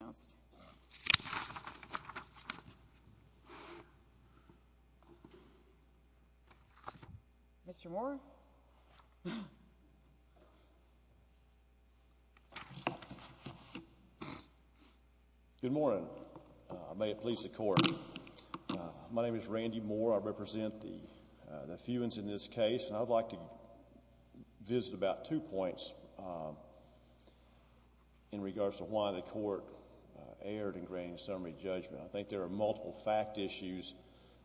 would like to visit about two points in regards to why the court erred in granting summary judgment. I think there are multiple fact issues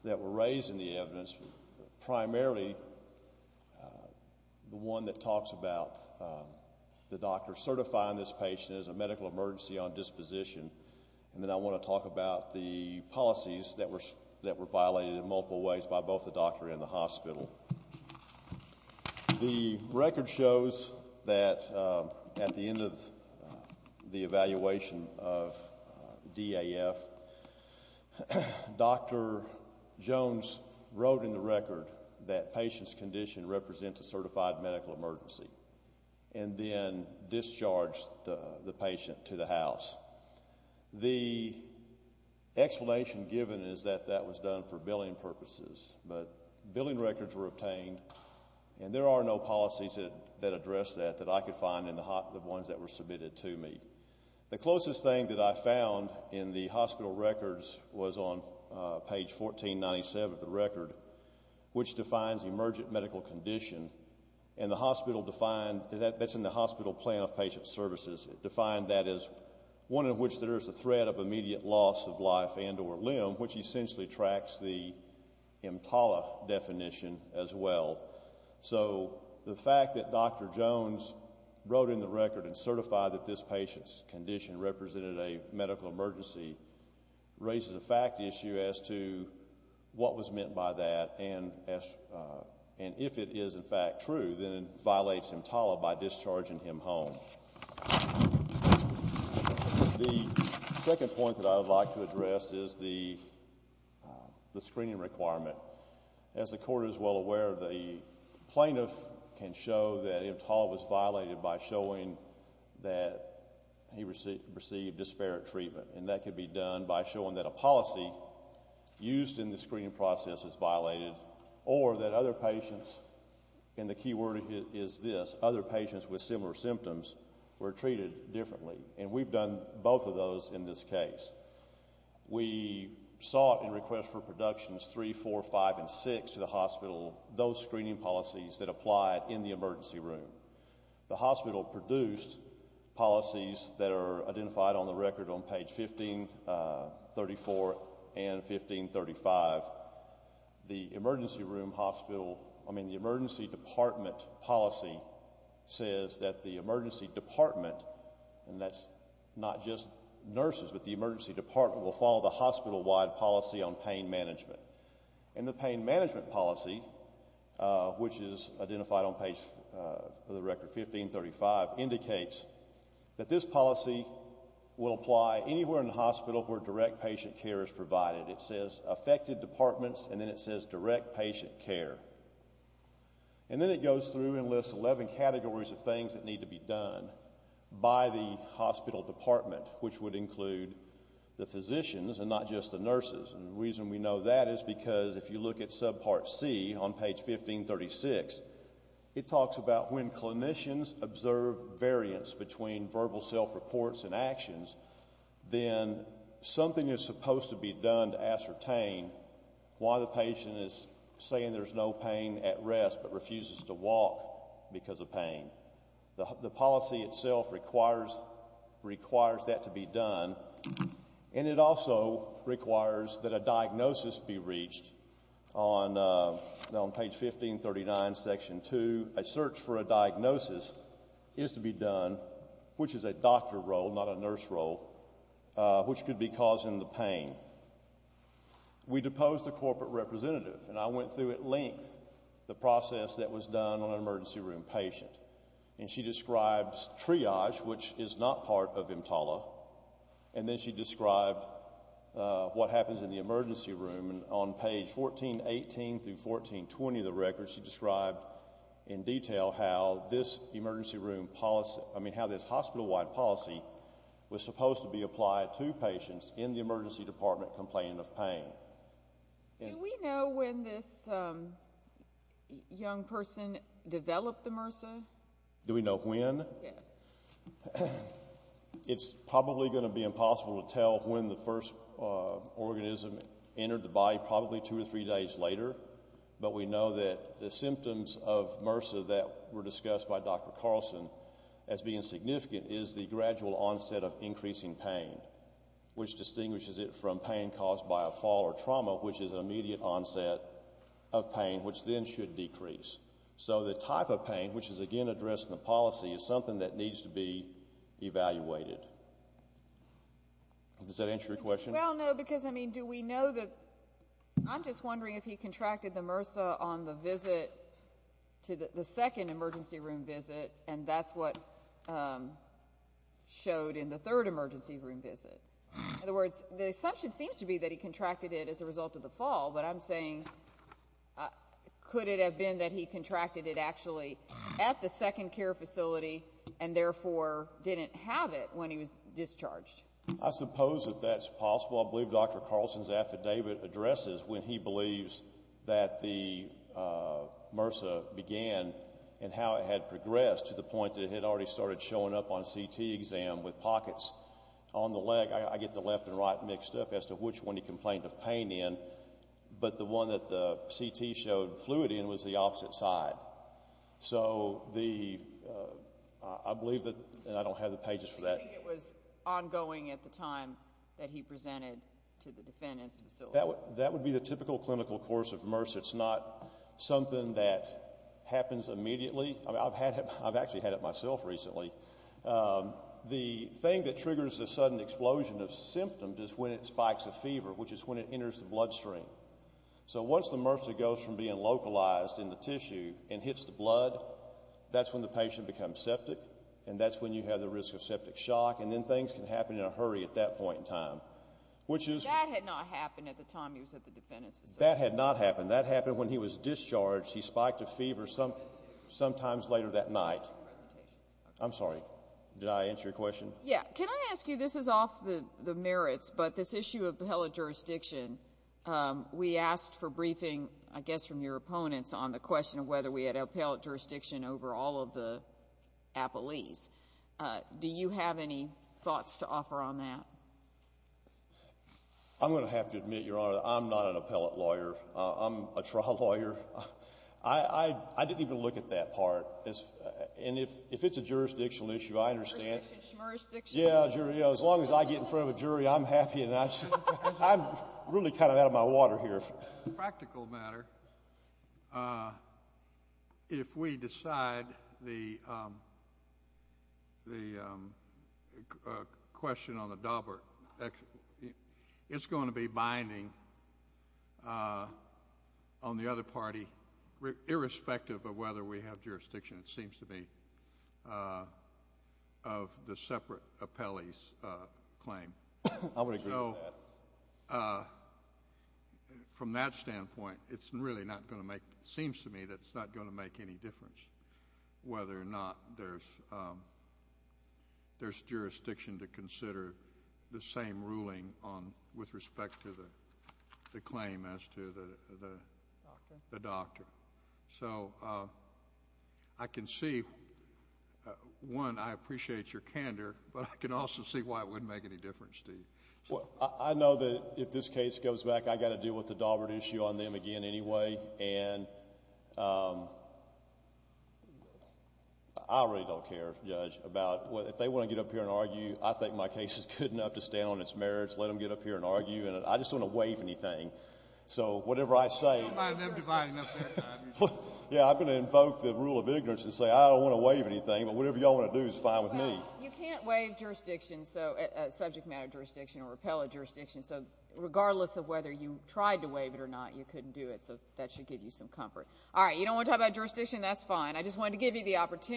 that were raised in the evidence, primarily the one that talks about the doctor certifying this patient as a medical emergency on disposition, and then I want to talk about the policies that were violated in multiple ways by both the doctor and the hospital. The record shows that at the end of the evaluation of DAF, Dr. Jones wrote in the record that patient's condition represents a certified medical emergency, and then discharged the patient to the house. The explanation given is that that was done for billing purposes, but billing records were obtained, and there are no policies that address that that I could find in the ones that were submitted to me. The closest thing that I found in the hospital records was on page 1497 of the record, which defines emergent medical condition, and that's in the hospital plan of patient services. It defined that as one in which there is a threat of immediate loss of life and or limb, which essentially tracks the EMTALA definition as well. So the fact that Dr. Jones wrote in the record and certified that this patient's condition represented a medical emergency raises a fact issue as to what was meant by that, and if it is in fact true, then it violates EMTALA by discharging him home. The second point that I would like to address is the screening requirement. As the court is well aware, the plaintiff can show that EMTALA was violated by showing that he received disparate treatment, and that could be done by showing that a policy used in the screening process is violated, or that other patients, and the key word is this, other patients with similar symptoms were treated differently, and we've done both of those in this case. We sought in request for productions 3, 4, 5, and 6 to the hospital those screening policies that applied in the emergency room. The hospital produced policies that are identified on the record on page 1534 and 1535. The emergency room hospital, I mean the emergency department policy says that the emergency department, and that's not just nurses, but the emergency department will follow the hospital-wide policy on pain management, and the pain management policy, which is identified on page, for the record, 1535, indicates that this policy will apply anywhere in the hospital where direct patient care is provided. It says affected departments, and then it says direct patient care, and then it goes through and lists 11 categories of things that need to be done by the hospital department, which would include the physicians and not just the nurses, and the reason we know that is because if you look at subpart C on page 1536, it talks about when clinicians observe variance between verbal self-reports and actions, then something is supposed to be done to ascertain why the patient is saying there's no pain at rest, but refuses to walk because of pain. The policy itself requires that to be done, and it also requires that a diagnosis be reached on page 1539, section 2. A search for a diagnosis is to be done, which is a doctor role, not a nurse role, which could be causing the pain. We deposed a corporate representative, and I went through at length the process that was done on an emergency room patient, and she describes triage, which is not part of EMTALA, and then she described what happens in the emergency room on page 1418 through 1420 of the records, she described in detail how this hospital-wide policy was supposed to be applied to patients in the emergency department complaining of pain. Do we know when this young person developed the MRSA? Do we know when? It's probably going to be impossible to tell when the first organism entered the body, probably two or three days later, but we know that the symptoms of MRSA that were discussed by Dr. Carlson as being significant is the gradual onset of increasing pain, which distinguishes it from pain caused by a fall or trauma, which is an immediate onset of pain, which then should decrease. So the type of pain, which is, again, addressed in the policy, is something that needs to be evaluated. Does that answer your question? Well, no, because, I mean, do we know that? I'm just wondering if he contracted the MRSA on the visit, the second emergency room visit, and that's what showed in the third emergency room visit. In other words, the assumption seems to be that he contracted it as a result of the fall, but I'm saying, could it have been that he contracted it actually at the second care facility and therefore didn't have it when he was discharged? I suppose that that's possible. I believe Dr. Carlson's affidavit addresses when he believes that the MRSA began and how it had progressed to the point that it had already started showing up on a CT exam with pockets on the leg. I get the left and right mixed up as to which one he complained of pain in, but the one that the CT showed fluid in was the opposite side. So the, I believe that, and I don't have the pages for that. Do you think it was ongoing at the time that he presented to the defendant's facility? That would be the typical clinical course of MRSA. It's not something that happens immediately. I've had it, I've actually had it myself recently. The thing that triggers the sudden explosion of symptoms is when it spikes a fever, which is when it enters the bloodstream. So once the MRSA goes from being localized in the tissue and hits the blood, that's when the patient becomes septic, and that's when you have the risk of septic shock, and then things can happen in a hurry at that point in time, which is- That had not happened at the time he was at the defendant's facility. That had not happened. That happened when he was discharged. He spiked a fever sometimes I'm sorry, did I answer your question? Yeah. Can I ask you, this is off the merits, but this issue of appellate jurisdiction, we asked for briefing, I guess from your opponents, on the question of whether we had appellate jurisdiction over all of the appellees. Do you have any thoughts to offer on that? I'm going to have to admit, Your Honor, that I'm not an appellate lawyer. I'm a trial lawyer. I didn't even look at that part. And if it's a jurisdictional issue, I understand- As long as I get in front of a jury, I'm happy. I'm really kind of out of my water here. Practical matter, if we decide the question on the Daubert, it's going to be binding on the other party, irrespective of whether we have jurisdiction, it seems to me, of the separate appellee's claim. I would agree with that. From that standpoint, it's really not going to make, it seems to me that it's not going to make any difference whether or not there's jurisdiction to consider the same ruling with respect to the claim as to the doctor. So I can see, one, I appreciate your candor, but I can also see why it wouldn't make any difference to you. I know that if this case goes back, I've got to deal with the Daubert issue on them again anyway. And I really don't care, Judge, about, if they want to get up here and argue, I think my case is good enough to stay on its merits, let them get up here and argue, and I just don't want to waive anything. So whatever I say, yeah, I'm going to invoke the rule of ignorance and say I don't want to waive anything, but whatever y'all want to do is fine with me. You can't waive jurisdiction, subject matter jurisdiction, or repeal a jurisdiction, so regardless of whether you tried to waive it or not, you couldn't do it, so that should give you some comfort. All right, you don't want to talk about jurisdiction? That's fine. I just wanted to give you the address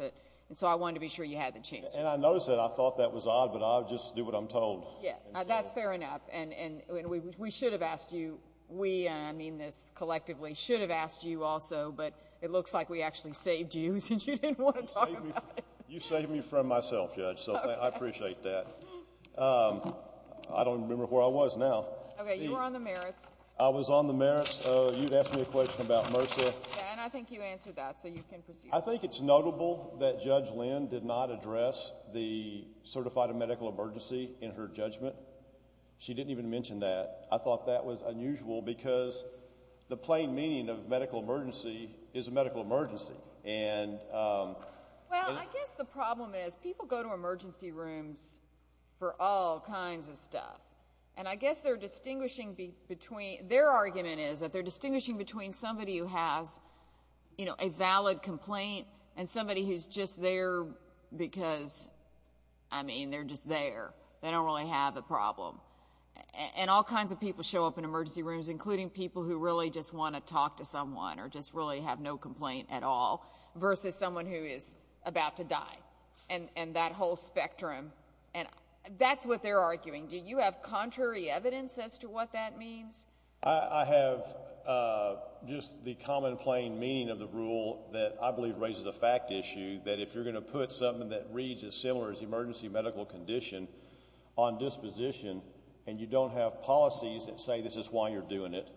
it, and so I wanted to be sure you had the chance to. And I noticed that. I thought that was odd, but I'll just do what I'm told. Yeah, that's fair enough. And we should have asked you, we, and I mean this collectively, should have asked you also, but it looks like we actually saved you since you didn't want to talk about it. You saved me from myself, Judge, so I appreciate that. I don't remember where I was now. Okay, you were on the merits. I was on the merits. You'd asked me a question about MRSA. Yeah, and I think you answered that, so you can proceed. I think it's notable that Judge Lynn did not address the certified medical emergency in her judgment. She didn't even mention that. I thought that was unusual because the plain meaning of medical emergency is a medical emergency. Well, I guess the problem is people go to emergency rooms for all kinds of stuff, and I guess they're distinguishing between, their argument is that they're distinguishing between somebody who has, you know, a valid complaint and somebody who's just there because, I mean, they're just there. They don't really have a problem. And all kinds of people show up in emergency rooms, including people who really just want to talk to someone or just really have no complaint at all, versus someone who is about to die, and that whole spectrum, and that's what they're arguing. Do you have contrary evidence as to what that means? I have just the common plain meaning of the rule that I believe raises a fact issue that if you're going to put something that reads as similar as emergency medical condition on disposition, and you don't have policies that say this is why you're doing it,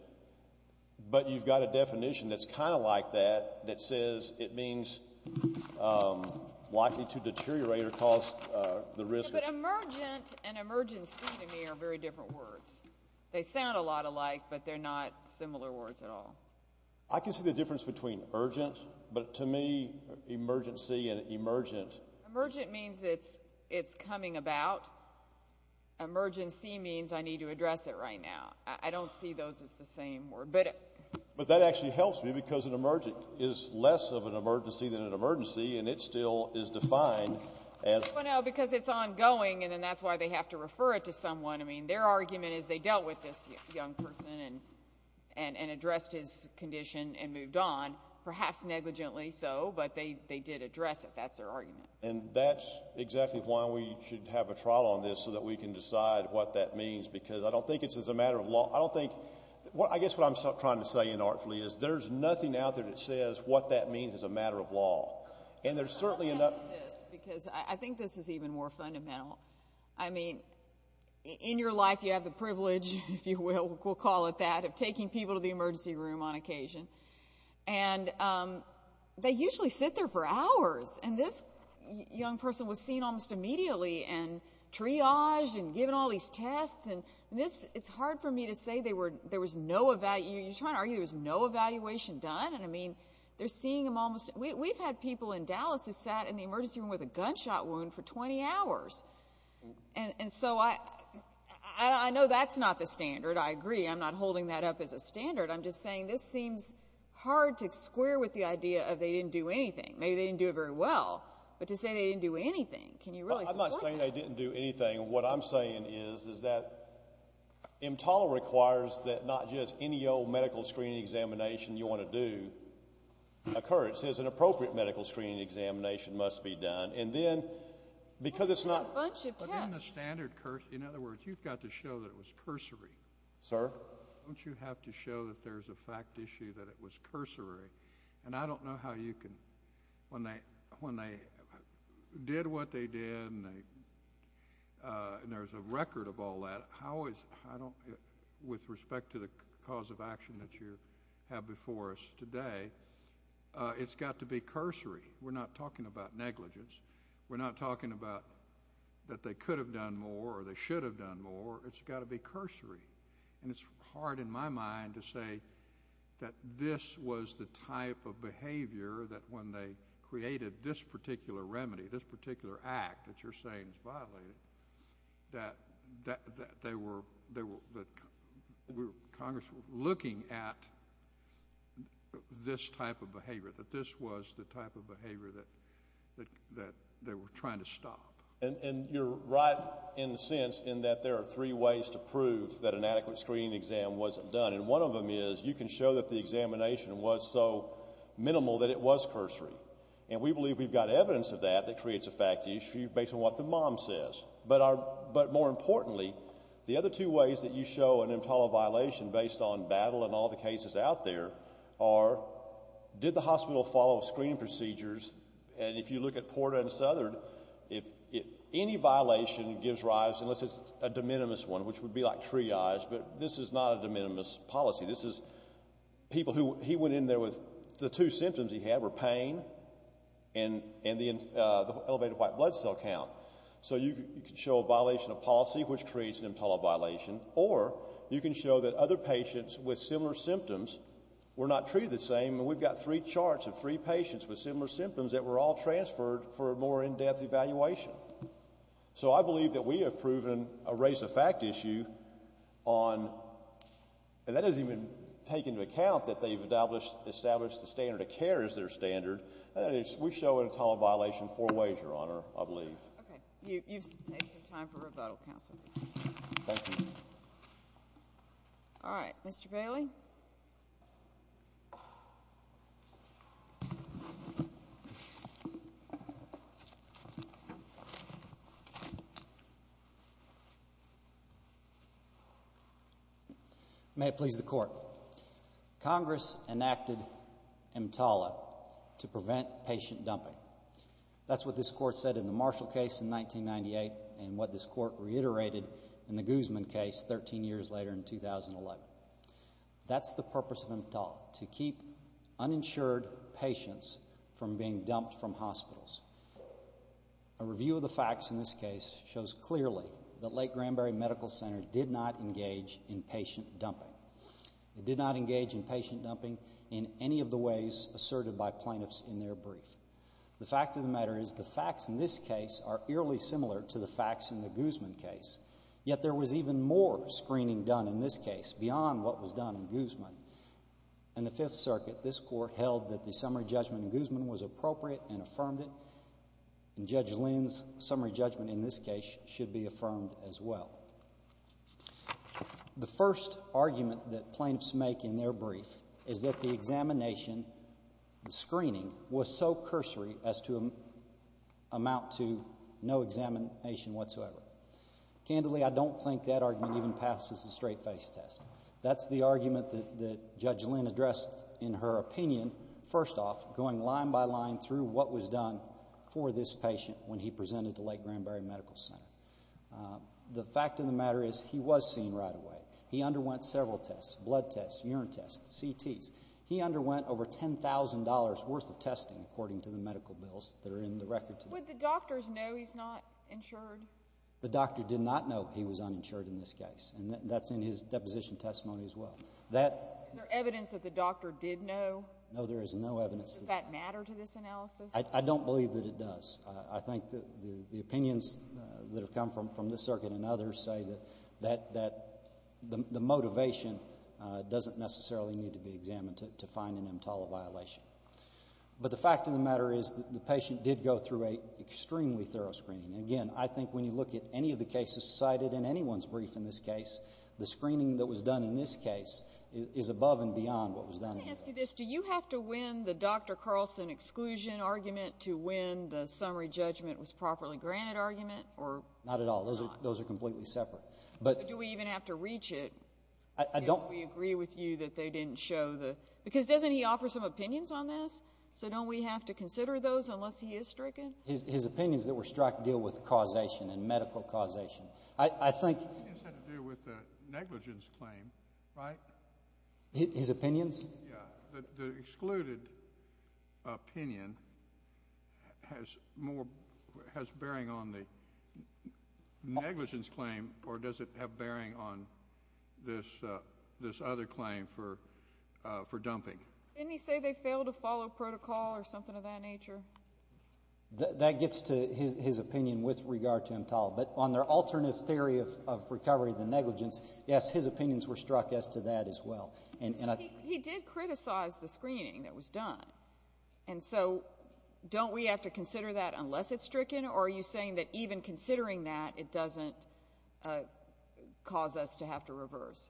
but you've got a definition that's kind of like that, that says it means likely to deteriorate or cause the risk. But emergent and emergency to me are very different words. They sound a lot alike, but they're not similar words at all. I can see the difference between urgent, but to me, emergency and emergent... Emergent means it's coming about. Emergency means I need to address it right now. I don't see those as the same word, but... But that actually helps me because an emergent is less of an emergency than an emergency, and it still is defined as... Well, no, because it's ongoing, and then that's why they have to refer it to someone. I mean, their argument is they dealt with this young person and addressed his condition and moved on, perhaps negligently so, but they did address it. That's their argument. And that's exactly why we should have a trial on this so that we can decide what that means because I don't think it's as a matter of law. I guess what I'm trying to say inartfully is there's nothing out there that says what that means as a matter of law. And there's certainly enough... I'm going to say this because I think this is even more fundamental. I mean, in your life, you have the privilege, if you will, we'll call it that, of taking people to the emergency room on occasion, and they usually sit there for hours, and this young person was seen almost immediately and triaged and given all these tests, and this... It's hard for me to say there was no... You're trying to argue there was no evaluation done, and I mean, they're seeing them almost... We've had people in Dallas who sat in the emergency room with a gunshot wound for 20 hours, and so I know that's not the standard. I agree. I'm not holding that up as a standard. I'm just saying this seems hard to square with the idea of they didn't do anything. Maybe they didn't do it very well, but to say they didn't do anything, can you really support that? I'm not saying they didn't do anything. What I'm saying is that EMTAL requires that not just any old medical screening examination you want to do occur. It says an appropriate medical screening examination must be done, and then, because it's not... But they did a bunch of tests. But in the standard... In other words, you've got to show that it was cursory. Sir? Don't you have to show that there's a fact issue that it was cursory? And I don't know how you can... When they did what they did, and there's a record of all that, how is... With respect to the cause of action that you have before us today, it's got to be cursory. We're not talking about negligence. We're not talking about that they could have done more or they should have done more. It's got to be cursory, and it's hard in my mind to say that this was the type of behavior that when they created this particular remedy, this particular act that you're saying is violated, that they were... Congress was looking at this type of behavior, that this was the type of behavior that they were trying to stop. And you're right, in a sense, in that there are three ways to prove that an adequate screening exam wasn't done, and one of them is you can show that the examination was so minimal that it was cursory. And we believe we've got evidence of that that creates a fact issue based on what the mom says. But more importantly, the other two ways that you show an EMTALA violation based on battle and all the cases out there are, did the hospital follow screening procedures? And if you look at Porta and Southern, any violation gives rise, unless it's a de minimis one, which would be like triage, but this is not a de minimis policy. This is people that were in pain and the elevated white blood cell count. So you can show a violation of policy, which creates an EMTALA violation, or you can show that other patients with similar symptoms were not treated the same, and we've got three charts of three patients with similar symptoms that were all transferred for a more in-depth evaluation. So I believe that we have proven a race of fact issue on, and that doesn't even take into account that they've established the standard of care as their standard. That is, we show an EMTALA violation four ways, Your Honor, I believe. Okay. You've saved some time for rebuttal, counsel. Thank you. All right. Mr. Bailey? May it please the Court. Congress, as a matter of fact, enacted EMTALA to prevent patient dumping. That's what this Court said in the Marshall case in 1998, and what this Court reiterated in the Guzman case 13 years later in 2011. That's the purpose of EMTALA, to keep uninsured patients from being dumped from hospitals. A review of the facts in this case shows clearly that Lake Granbury Medical Center did not engage in patient dumping in any of the ways asserted by plaintiffs in their brief. The fact of the matter is the facts in this case are eerily similar to the facts in the Guzman case, yet there was even more screening done in this case beyond what was done in Guzman. In the Fifth Circuit, this Court held that the summary judgment in Guzman was appropriate and affirmed it, and Judge Lynn's summary judgment in this case should be affirmed as well. The first argument that plaintiffs make in their brief is that the examination, the screening, was so cursory as to amount to no examination whatsoever. Candidly, I don't think that argument even passes the straight-face test. That's the argument that Judge Lynn addressed in her opinion, first off, going line by line through what was done for this patient. The fact of the matter is he was seen right away. He underwent several tests, blood tests, urine tests, CTs. He underwent over $10,000 worth of testing, according to the medical bills that are in the record today. Would the doctors know he's not insured? The doctor did not know he was uninsured in this case, and that's in his deposition testimony as well. Is there evidence that the doctor did know? No, there is no evidence. Does that matter to this analysis? I don't believe that it does. I think the opinions that have come from this circuit and others say that the motivation doesn't necessarily need to be examined to find an EMTALA violation. But the fact of the matter is the patient did go through an extremely thorough screening. Again, I think when you look at any of the cases cited in anyone's brief in this case, the screening that was done in this case is above and beyond what was done in this case. Do you have to win the Dr. Carlson exclusion argument to win the summary judgment was properly granted argument? Not at all. Those are completely separate. Do we even have to reach it if we agree with you that they didn't show the... Because doesn't he offer some opinions on this? So don't we have to consider those unless he is stricken? His opinions that were struck deal with causation and medical causation. I think... It has to do with the negligence claim, right? His opinions? Yeah. The excluded opinion has bearing on the negligence claim or does it have bearing on this other claim for dumping? Didn't he say they failed to follow protocol or something of that nature? That gets to his opinion with regard to EMTALA. But on their alternative theory of recovery of the negligence, yes, his opinions were struck as to that as well. He did criticize the screening that was done. And so don't we have to consider that unless it's stricken or are you saying that even considering that it doesn't cause us to have to reverse?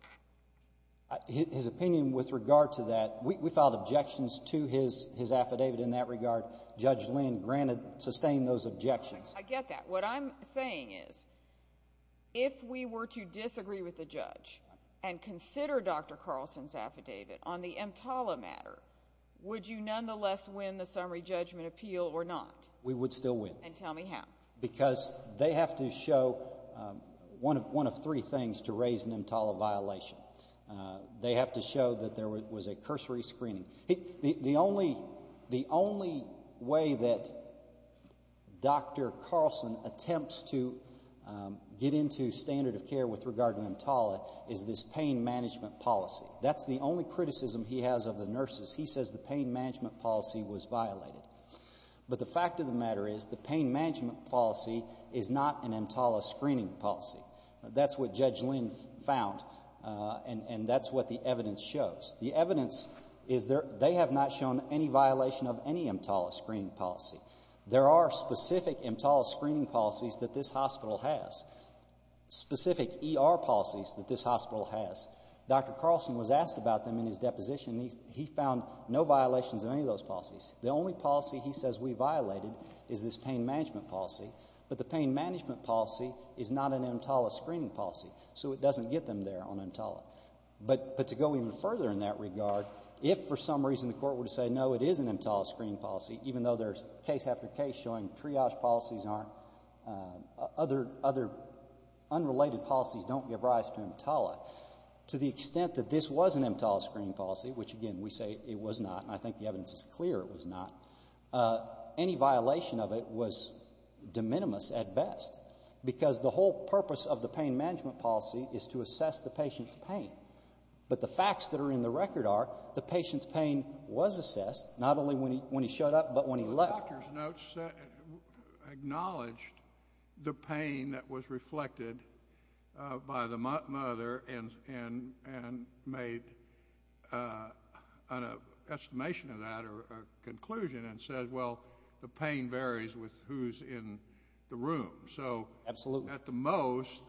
His opinion with regard to that, we filed objections to his affidavit in that regard. Judge Lynn granted, sustained those objections. I get that. What I'm saying is if we were to disagree with the judge and consider Dr. Carlson's affidavit on the EMTALA matter, would you nonetheless win the summary judgment appeal or not? We would still win. And tell me how. Because they have to show one of three things to raise an EMTALA violation. They have to show that there was a cursory screening. The only way that Dr. Carlson attempts to get into standard of care with regard to EMTALA is this pain management policy. That's the only criticism he has of the nurses. He says the pain management policy was violated. But the fact of the matter is the pain management policy is not an EMTALA screening policy. That's what Judge Lynn found and that's what the evidence shows. The evidence is they have not shown any violation of any EMTALA screening policy. There are specific EMTALA screening policies that this hospital has. Specific ER policies that this hospital has. Dr. Carlson was asked about them in his deposition. He found no violations of any of those policies. The only policy he says we violated is this pain management policy. But the pain management policy is not an EMTALA screening policy. So it doesn't get them there on EMTALA. But to go even further in that regard, if for some reason the court were to say, no, it is an EMTALA screening policy, even though there's case after case showing triage policies aren't, other unrelated policies don't give rise to EMTALA, to the extent that this was an EMTALA screening policy, which again we say it was not, and I think the evidence is clear it was not, any violation of it was de minimis at best. Because the whole purpose of the pain management policy is to assess the patient's pain. But the facts that are in the record are the patient's pain was assessed, not only when he showed up, but when he left. Well, the doctor's notes acknowledged the pain that was reflected by the mother and made an estimation of that or a conclusion and said, well, the pain varies with who's in the room. Absolutely. At the most,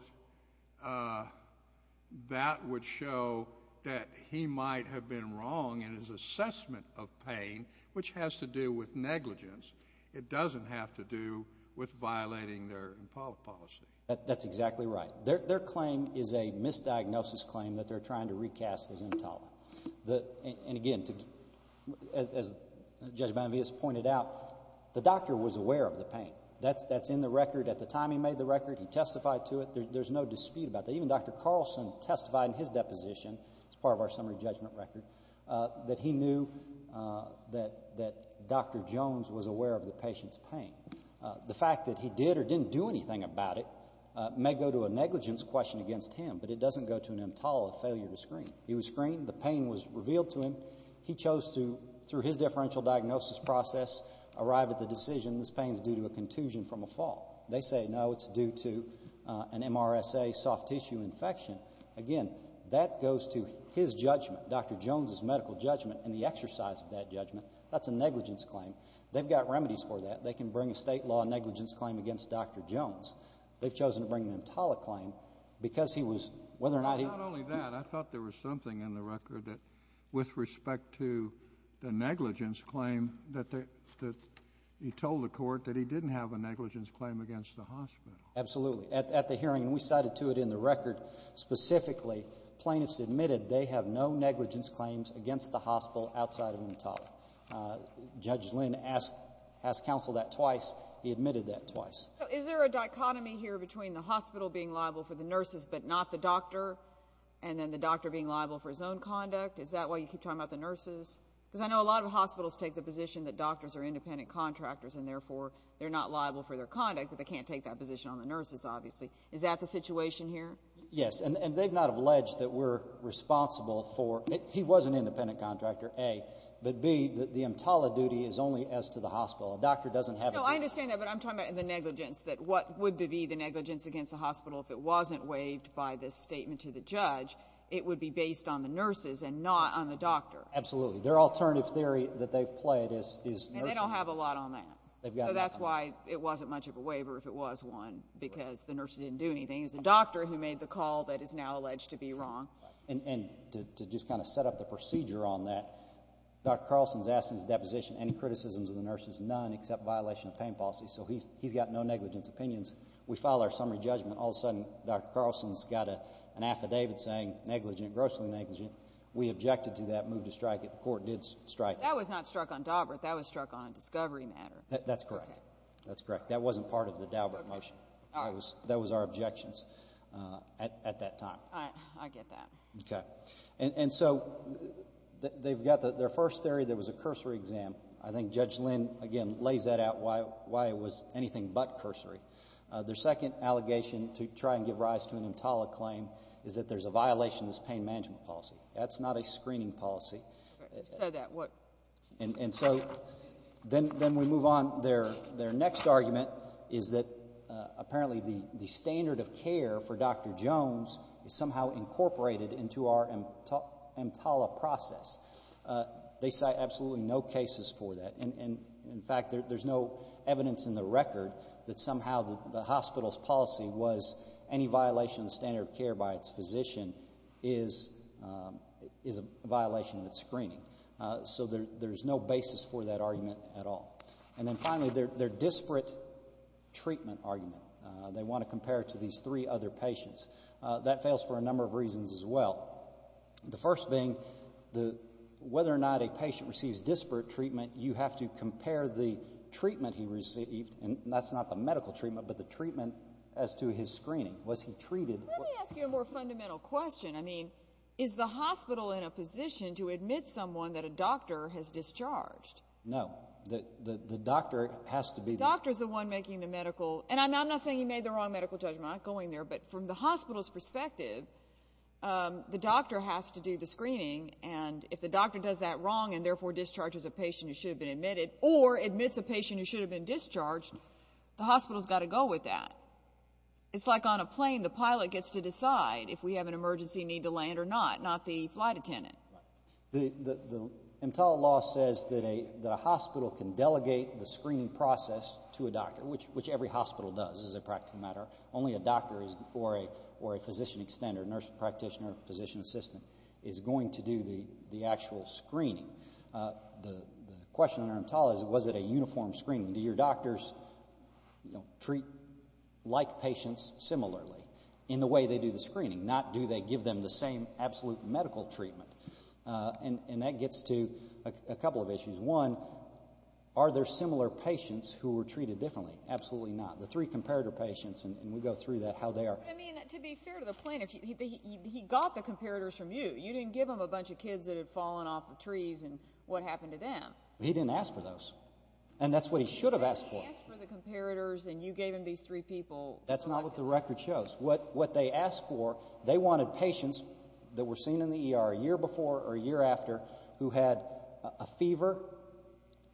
that would show that he might have been wrong in his assessment of pain, which has to do with negligence. It doesn't have to do with violating their EMTALA policy. That's exactly right. Their claim is a misdiagnosis claim that they're trying to recast as EMTALA. And again, as Judge Bonavius pointed out, the doctor was aware of the pain. That's in the record. At the time he made the record, he testified to it. There's no dispute about that. Even Dr. Carlson testified in his deposition, as part of our summary judgment record, that he knew that Dr. Jones was aware of the patient's pain. The fact that he did or didn't do anything about it may go to a negligence question against him, but it doesn't go to an EMTALA failure to screen. He was screened. The pain was revealed to him. He chose to, through his differential diagnosis process, arrive at the decision this pain is due to a contusion from a fall. They say, no, it's due to an MRSA soft tissue infection. Again, that goes to his judgment, Dr. Jones's medical judgment, and the exercise of that judgment. That's a negligence claim. They've got remedies for that. They can bring a state law negligence claim against Dr. Jones. They've chosen to bring an EMTALA claim because he was, whether or not he Not only that, I thought there was something in the record that, with respect to the negligence claim, that he told the Court that he didn't have a negligence claim against the hospital. Absolutely. At the hearing, we cited to it in the record specifically, plaintiffs admitted they have no negligence claims against the hospital outside of EMTALA. Judge Lynn asked counsel that twice. He admitted that twice. So is there a dichotomy here between the hospital being liable for the nurses but not the doctor, and then the doctor being liable for his own conduct? Is that why you keep talking about the nurses? Because I know a lot of hospitals take the position that doctors are independent contractors and, therefore, they're not liable for their conduct, but they can't take that position on the nurses, obviously. Is that the situation here? Yes. And they've not alleged that we're responsible for it. He was an independent contractor, A. But, B, the EMTALA duty is only as to the hospital. A doctor doesn't have a No, I understand that, but I'm talking about the negligence, that what would be the negligence against the hospital if it wasn't waived by this statement to the judge. It would be based on the nurses and not on the doctor. Absolutely. Their alternative theory that they've played is nurses And they don't have a lot on that. They've got nothing on that. So that's why it wasn't much of a waiver if it was one, because the nurse didn't do anything. It was the doctor who made the call that is now alleged to be wrong. And to just kind of set up the procedure on that, Dr. Carlson's asked in his deposition any criticisms of the nurses, none except violation of pain policy. So he's got no negligence opinions. We file our summary judgment. All of a sudden, Dr. Carlson's got an affidavit saying negligent, grossly negligent. We objected to that, moved to strike it. The court did strike it. That was not struck on Daubert. That was struck on a discovery matter. That's correct. That's correct. That wasn't part of the Daubert motion. That was our objections at that time. I get that. And so they've got their first theory. There was a cursory exam. I think Judge Lynn, again, lays that out why it was anything but cursory. Their second allegation to try and give rise to an EMTALA claim is that there's a violation of this pain management policy. That's not a screening policy. You said that. What? And so then we move on. Their next argument is that apparently the standard of care for Dr. Jones is somehow incorporated into our EMTALA process. They cite absolutely no cases for that. And, in fact, there's no evidence in the record that somehow the hospital's any violation of the standard of care by its physician is a violation of its screening. So there's no basis for that argument at all. And then, finally, their disparate treatment argument. They want to compare it to these three other patients. That fails for a number of reasons as well. The first being whether or not a patient receives disparate treatment, you have to compare the treatment he received and that's not the medical treatment, but the treatment as to his screening. Was he treated? Let me ask you a more fundamental question. I mean, is the hospital in a position to admit someone that a doctor has discharged? No. The doctor has to be the... The doctor's the one making the medical... And I'm not saying he made the wrong medical judgment. I'm not going there. But from the hospital's perspective, the doctor has to do the screening. And if the doctor does that wrong and therefore discharges a patient who should have been discharged, the hospital's got to go with that. It's like on a plane, the pilot gets to decide if we have an emergency need to land or not, not the flight attendant. The EMTALA law says that a hospital can delegate the screening process to a doctor, which every hospital does as a practical matter. Only a doctor or a physician extender, nurse practitioner, physician assistant, is going to do the actual screening. The question under EMTALA is was it a uniform screening? Do your doctors, you know, treat like patients similarly in the way they do the screening? Not do they give them the same absolute medical treatment? And that gets to a couple of issues. One, are there similar patients who were treated differently? Absolutely not. The three comparator patients, and we go through that, how they are... I mean, to be fair to the plaintiff, he got the comparators from you. You didn't give him a bunch of kids that had fallen off the trees and what happened to them. He didn't ask for those. And that's what he should have asked for. He said he asked for the comparators and you gave him these three people. That's not what the record shows. What they asked for, they wanted patients that were seen in the ER a year before or a year after who had a fever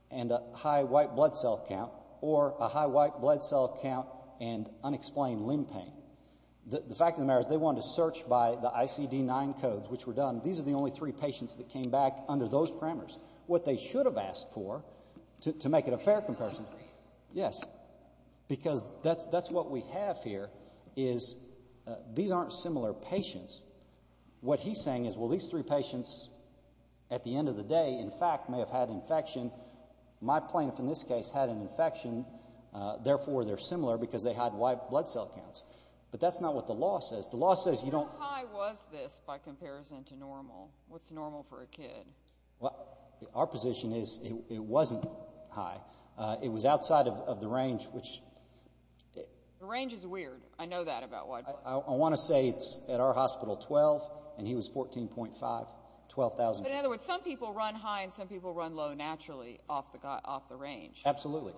and a high white blood cell count or a high white blood cell count and unexplained limb pain. The fact of the matter is they wanted to search by the ICD-9 codes, which were done. These are the only three that he asked for, to make it a fair comparison. Yes. Because that's what we have here is these aren't similar patients. What he's saying is, well, these three patients at the end of the day, in fact, may have had infection. My plaintiff in this case had an infection. Therefore, they're similar because they had white blood cell counts. But that's not what the law says. The law says you don't... How high was this by comparison to normal? What's normal for a kid? Well, our position is it wasn't high. It was outside of the range, which... The range is weird. I know that about white blood cells. I want to say it's, at our hospital, 12, and he was 14.5, 12,000. But in other words, some people run high and some people run low naturally off the range. Absolutely.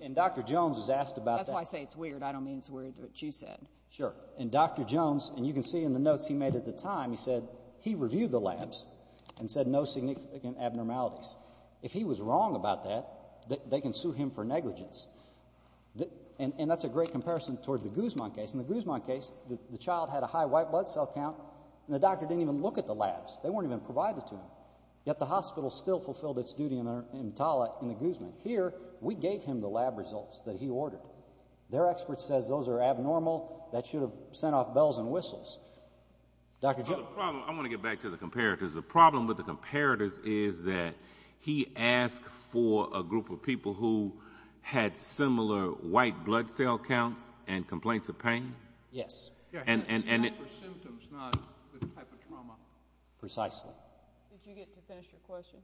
And Dr. Jones was asked about that. That's why I say it's weird. I don't mean it's weird what you said. Sure. And Dr. Jones, and you can see in the notes he made at the time, he said he reviewed the labs and said no significant abnormalities. If he was wrong about that, they can sue him for negligence. And that's a great comparison toward the Guzman case. In the Guzman case, the child had a high white blood cell count, and the doctor didn't even look at the labs. They weren't even provided to him. Yet the hospital still fulfilled its duty in the Guzman. Here, we gave him the lab results that he ordered. I want to get back to the comparators. The problem with the comparators is that he asked for a group of people who had similar white blood cell counts and complaints of pain. Yes. Precisely. Did you get to finish your question?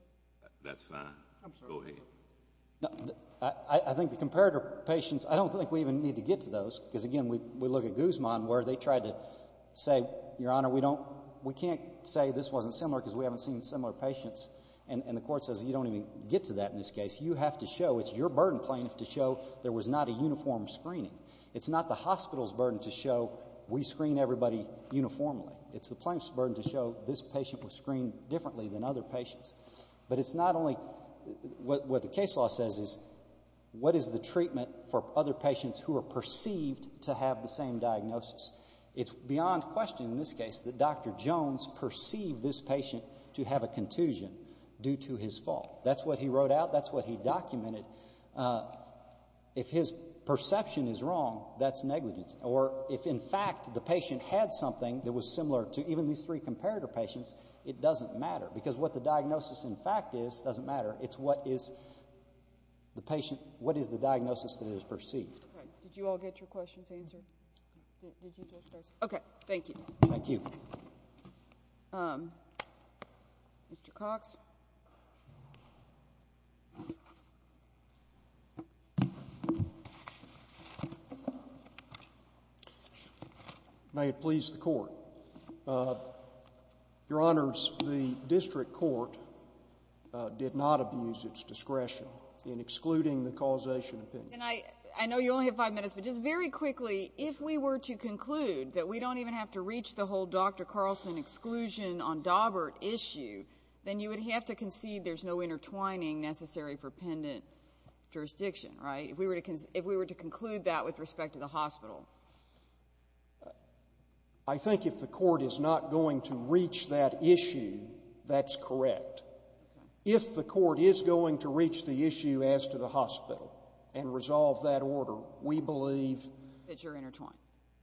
I think the comparator patients, I don't think we even need to get to those. Because again, we look at Guzman where they tried to say, Your Honor, we can't say this wasn't similar because we haven't seen similar patients. And the court says you don't even get to that in this case. You have to show, it's your burden plaintiff, to show there was not a uniform screening. It's not the hospital's burden to show we screen everybody uniformly. It's the plaintiff's burden to show this patient was screened differently than other patients. But it's not only, what the case law says is, what is the treatment for other patients who are perceived to have the same diagnosis? It's beyond question in this case that Dr. Jones perceived this patient to have a contusion due to his fault. That's what he wrote out. That's what he documented. If his perception is wrong, that's negligence. Or if in fact the patient had something that was similar to even these three comparator patients, it doesn't matter. Because what the diagnosis in fact is doesn't matter. It's what is the patient, what is the diagnosis that is perceived. Did you all get your questions answered? Okay, thank you. May it please the Court. Your Honors, the district court did not abuse its discretion in excluding the causation opinion. And I know you only have five minutes, but just very quickly, if we were to conclude that we don't even have to reach the whole Dr. Carlson exclusion on Daubert issue, then you would have to concede there's no intertwining necessary for pendant jurisdiction, right, if we were to conclude that with respect to the hospital? I think if the court is not going to reach that issue, that's correct. If the court is going to reach the issue as to the hospital and resolve that order, we believe that you're intertwined.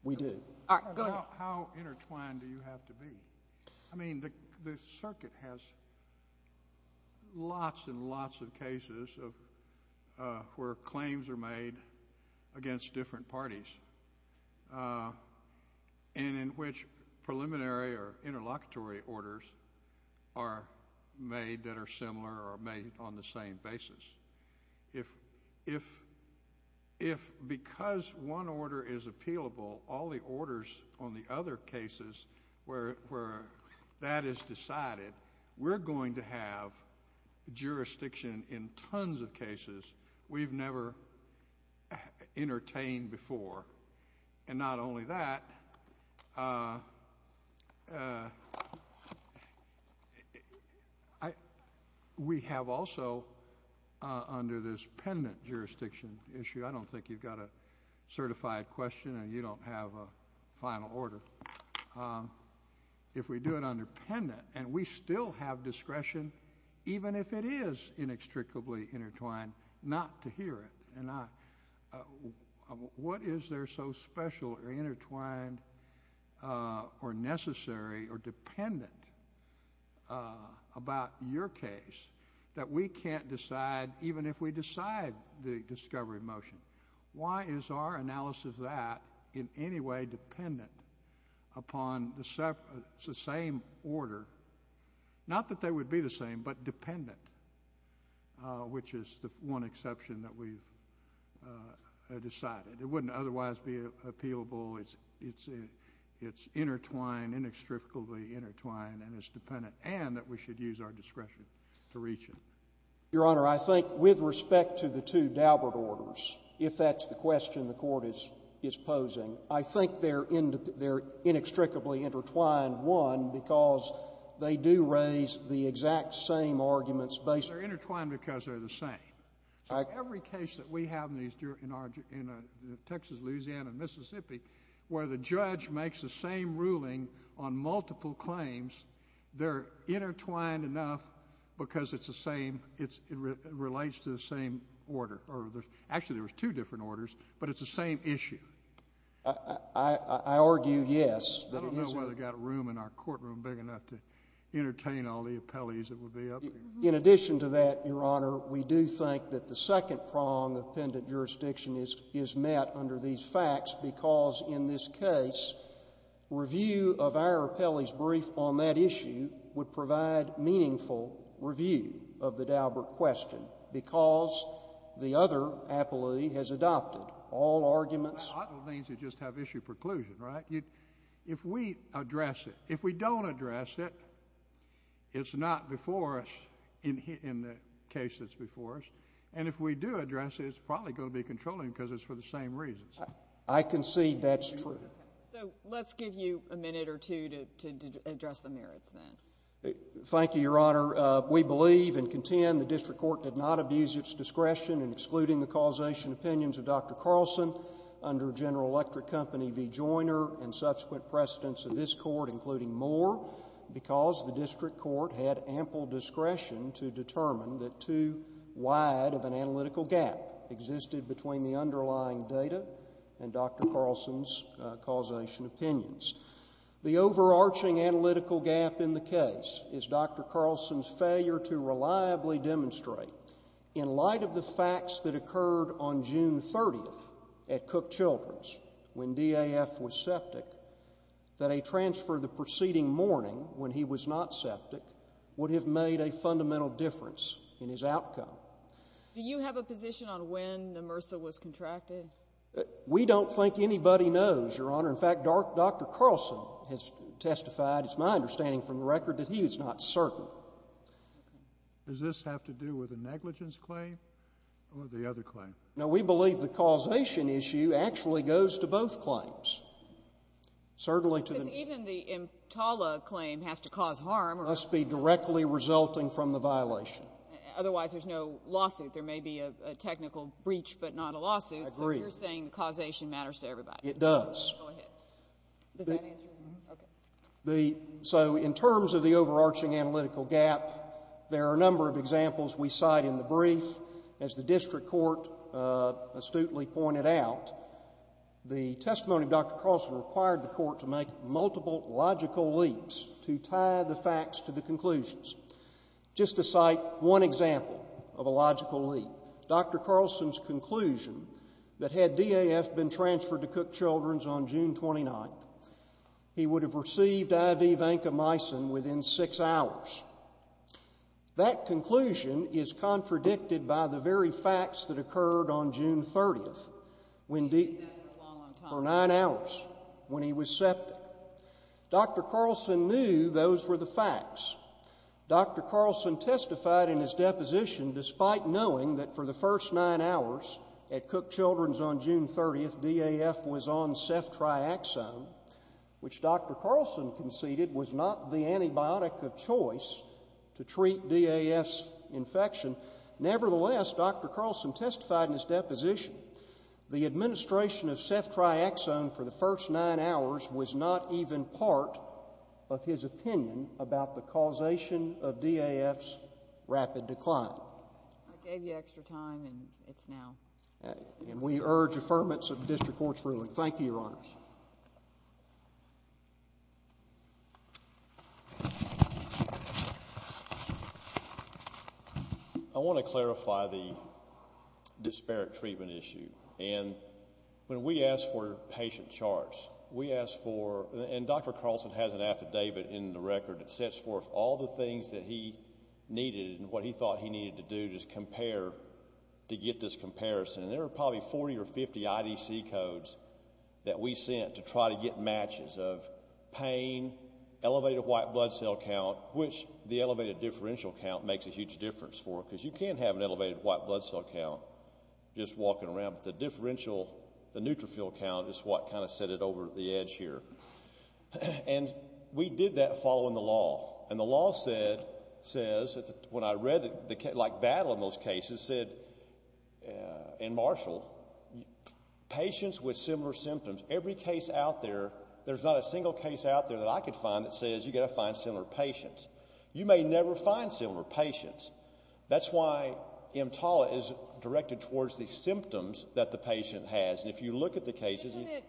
We do. All right, go ahead. How intertwined do you have to be? I mean, the circuit has lots and lots of cases where claims are made against different parties. And in which preliminary or interlocutory orders are made that are similar or made on the same basis. If because one order is appealable, all the orders on the other cases where that is decided, we're going to have jurisdiction in tons of cases we've never entertained before. And not only that, we have also under this pendant jurisdiction issue, I don't think you've got a certified question and you don't have a final order. If we do it under pendant and we still have discretion, even if it is inextricably intertwined, not to hear it. What is there so special or intertwined or necessary or dependent about your case that we can't decide even if we decide the discovery motion? Why is our analysis of that in any way dependent upon the same order? Not that they would be the same, but dependent. Which is the one exception that we've decided. It wouldn't otherwise be appealable. It's intertwined, inextricably intertwined, and it's dependent. And that we should use our discretion to reach it. Your Honor, I think with respect to the two Daubert orders, if that's the question the Court is posing, I think they're inextricably intertwined, one, because they do raise the exact same arguments. They're intertwined because they're the same. Every case that we have in Texas, Louisiana, and Mississippi where the judge makes the same ruling on multiple claims, they're intertwined enough because it's the same, it relates to the same order. Actually, there's two different orders, but it's the same issue. I argue, yes. I don't know whether we've got room in our courtroom big enough to entertain all the appellees that would be up here. In addition to that, Your Honor, we do think that the second prong of pendant jurisdiction is met under these facts because in this case, review of our appellee's brief on that issue would provide meaningful review of the Daubert question because the other appellee has adopted all arguments. Well, that means you just have issue preclusion, right? If we address it, if we don't address it, it's not before us in the case that's before us. And if we do address it, it's probably going to be controlling because it's for the same reasons. I concede that's true. So, let's give you a minute or two to address the merits then. Thank you, Your Honor. We believe and contend the District Court did not abuse its discretion in excluding the causation opinions of Dr. Carlson under General Electric Company v. Joyner and subsequent precedents of this Court including more because the District Court had ample discretion to determine that too wide of an analytical gap existed between the underlying data and Dr. Carlson's causation opinions. The overarching analytical gap in the case is Dr. Carlson's failure to reliably demonstrate in light of the facts that occurred on June 30th at Cook Children's when DAF was septic that a transfer the preceding morning when he was not septic would have made a fundamental difference in his outcome. Do you have a position on when the MRSA was contracted? We don't think anybody knows, Your Honor. In fact, Dr. Carlson has testified, it's my understanding from the record, that he is not certain. Does this have to do with a negligence claim or the other claim? No, we believe the causation issue actually goes to both claims. Because even the EMTALA claim has to cause harm. It must be directly resulting from the violation. Otherwise, there's no lawsuit. There may be a technical breach but not a lawsuit. I agree. So you're saying the causation matters to everybody. It does. Does that answer your question? So in terms of the overarching analytical gap, there are a number of examples we cite in the brief. As the district court astutely pointed out, the testimony of Dr. Carlson required the court to make multiple logical leaps to tie the facts to the conclusions. Just to cite one example of a logical leap, Dr. Carlson's conclusion that had DAF been transferred to Cook Children's on June 29th, he would have received IV vancomycin within six hours. That conclusion is contradicted by the very facts that occurred on June 30th, for nine hours, when he was septic. Dr. Carlson knew those were the facts. Dr. Carlson testified in his deposition, despite knowing that for the first nine hours at Cook Children's on June 30th, DAF was on ceftriaxone, which Dr. Carlson conceded was not the antibiotic of choice to treat DAF's infection. Nevertheless, Dr. Carlson testified in his deposition, the administration of ceftriaxone for the first nine hours was not even part of his opinion about the causation of DAF's rapid decline. I gave you extra time, and it's now. And we urge affirmance of the district court's ruling. Thank you, Your Honors. I want to clarify the disparate treatment issue. And when we ask for patient charts, we ask for, and Dr. Carlson has an affidavit in the record that sets forth all the things that he needed and what he thought he needed to do to get this comparison. And there were probably 40 or 50 IDC codes that we sent to try to get matches of pain, elevated white blood cell count, which the elevated differential count makes a huge difference for, because you can't have an elevated white blood cell count just walking around. But the differential, the neutrophil count, is what kind of set it over the edge here. And we did that following the law. And the law says, when I read the battle in those cases, it said in Marshall, patients with similar symptoms, every case out there, there's not a single case out there that I could find that says you've got to find similar patients. You may never find similar patients. That's why EMTALA is directed towards the symptoms that the patient has. And if you look at the cases... Isn't it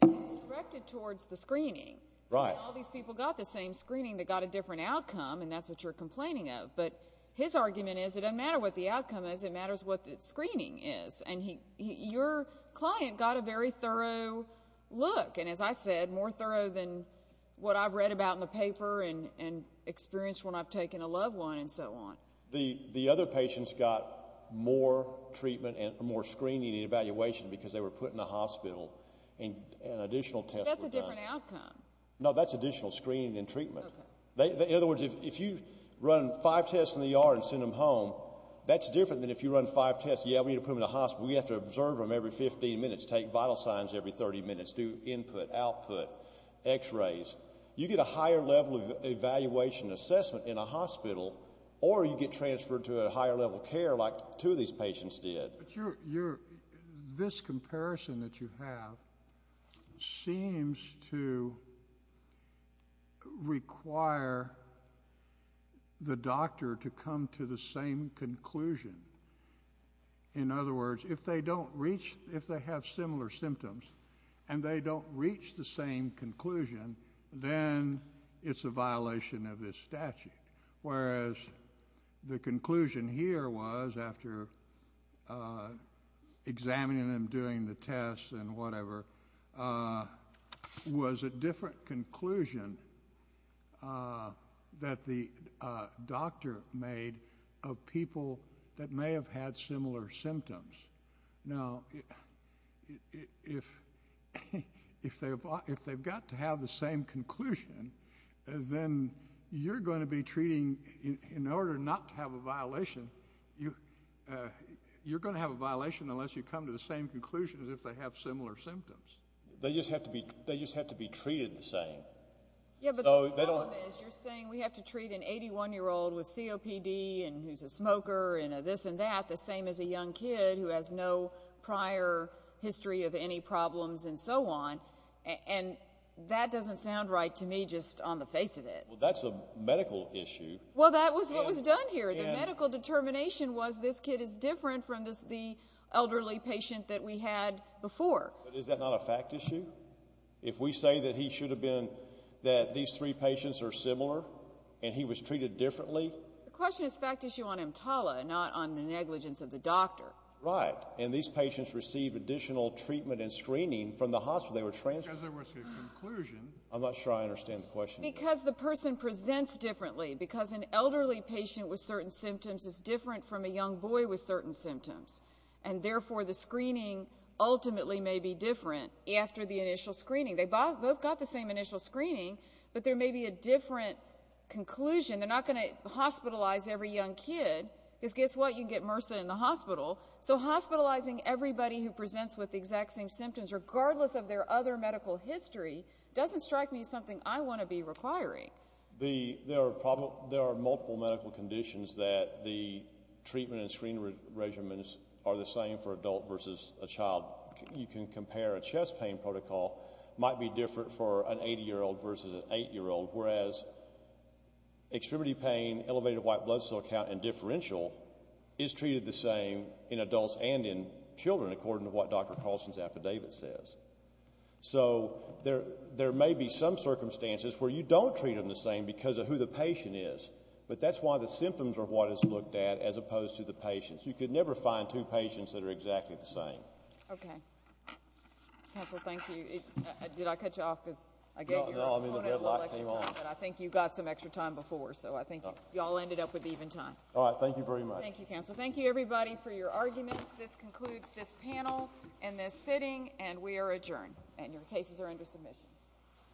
directed towards the screening? Right. All these people got the same screening that got a different outcome, and that's what you're complaining of. But his argument is it doesn't matter what the outcome is, it matters what the screening is. And your client got a very thorough look. And as I said, more thorough than what I've read about in the paper and experienced when I've taken a loved one and so on. The other patients got more treatment and more screening and evaluation because they were put in the hospital and additional tests were done. That's a different outcome. No, that's additional screening and treatment. In other words, if you run five tests in the ER and send them home, that's different than if you run five tests. Yeah, we need to put them in the hospital. We have to observe them every 15 minutes, take vital signs every 30 minutes, do input, output, x-rays. You get a higher level of evaluation and assessment in a hospital or you get transferred to a higher level of care like two of these patients did. This comparison that you have seems to require the doctor to come to the same conclusion. In other words, if they have similar symptoms and they don't reach the same conclusion, then it's a violation of this statute. Whereas the conclusion here was, after examining them, doing the tests and whatever, was a different conclusion that the doctor made of people that may have had similar symptoms. Now, if they've got to have the same conclusion, then you're going to be treating, in order not to have a violation, you're going to have a violation unless you come to the same conclusion as if they have similar symptoms. They just have to be treated the same. Yeah, but the problem is you're saying we have to treat an 81-year-old with COPD and who's a smoker and this and that, the same as a young kid who has no prior history of any problems and so on. And that doesn't sound right to me just on the face of it. Well, that's a medical issue. Well, that was what was done here. The medical determination was this kid is different from the elderly patient that we had before. But is that not a fact issue? If we say that he should have been, that these three patients are similar and he was treated differently? The question is fact issue on EMTALA, not on the negligence of the doctor. Right, and these patients receive additional treatment and screening from the hospital. They were transferred. Because there was a conclusion. I'm not sure I understand the question. Because the person presents differently. Because an elderly patient with certain symptoms is different from a young boy with certain symptoms. And therefore, the screening ultimately may be different after the initial screening. They both got the same initial screening, but there may be a different conclusion. They're not going to hospitalize every young kid. Because guess what? You can get MRSA in the hospital. So hospitalizing everybody who presents with the exact same symptoms regardless of their other medical history doesn't strike me as something I want to be requiring. There are multiple medical conditions that the treatment and screening regimens are the same for adult versus a child. You can compare a chest pain protocol. It might be different for an 80-year-old versus an 8-year-old. Whereas, extremity pain, elevated white blood cell count and differential is treated the same in adults and in children according to what Dr. Carlson's affidavit says. So there may be some circumstances where you don't treat them the same because of who the patient is. But that's why the symptoms are what is looked at as opposed to the patients. You could never find two patients that are exactly the same. Okay. Council, thank you. Did I cut you off? No, the red light came on. I think you got some extra time before. So I think you all ended up with even time. All right. Thank you very much. Thank you, Council. Thank you, everybody, for your arguments. This concludes this panel and this sitting. And we are adjourned. And your cases are under submission.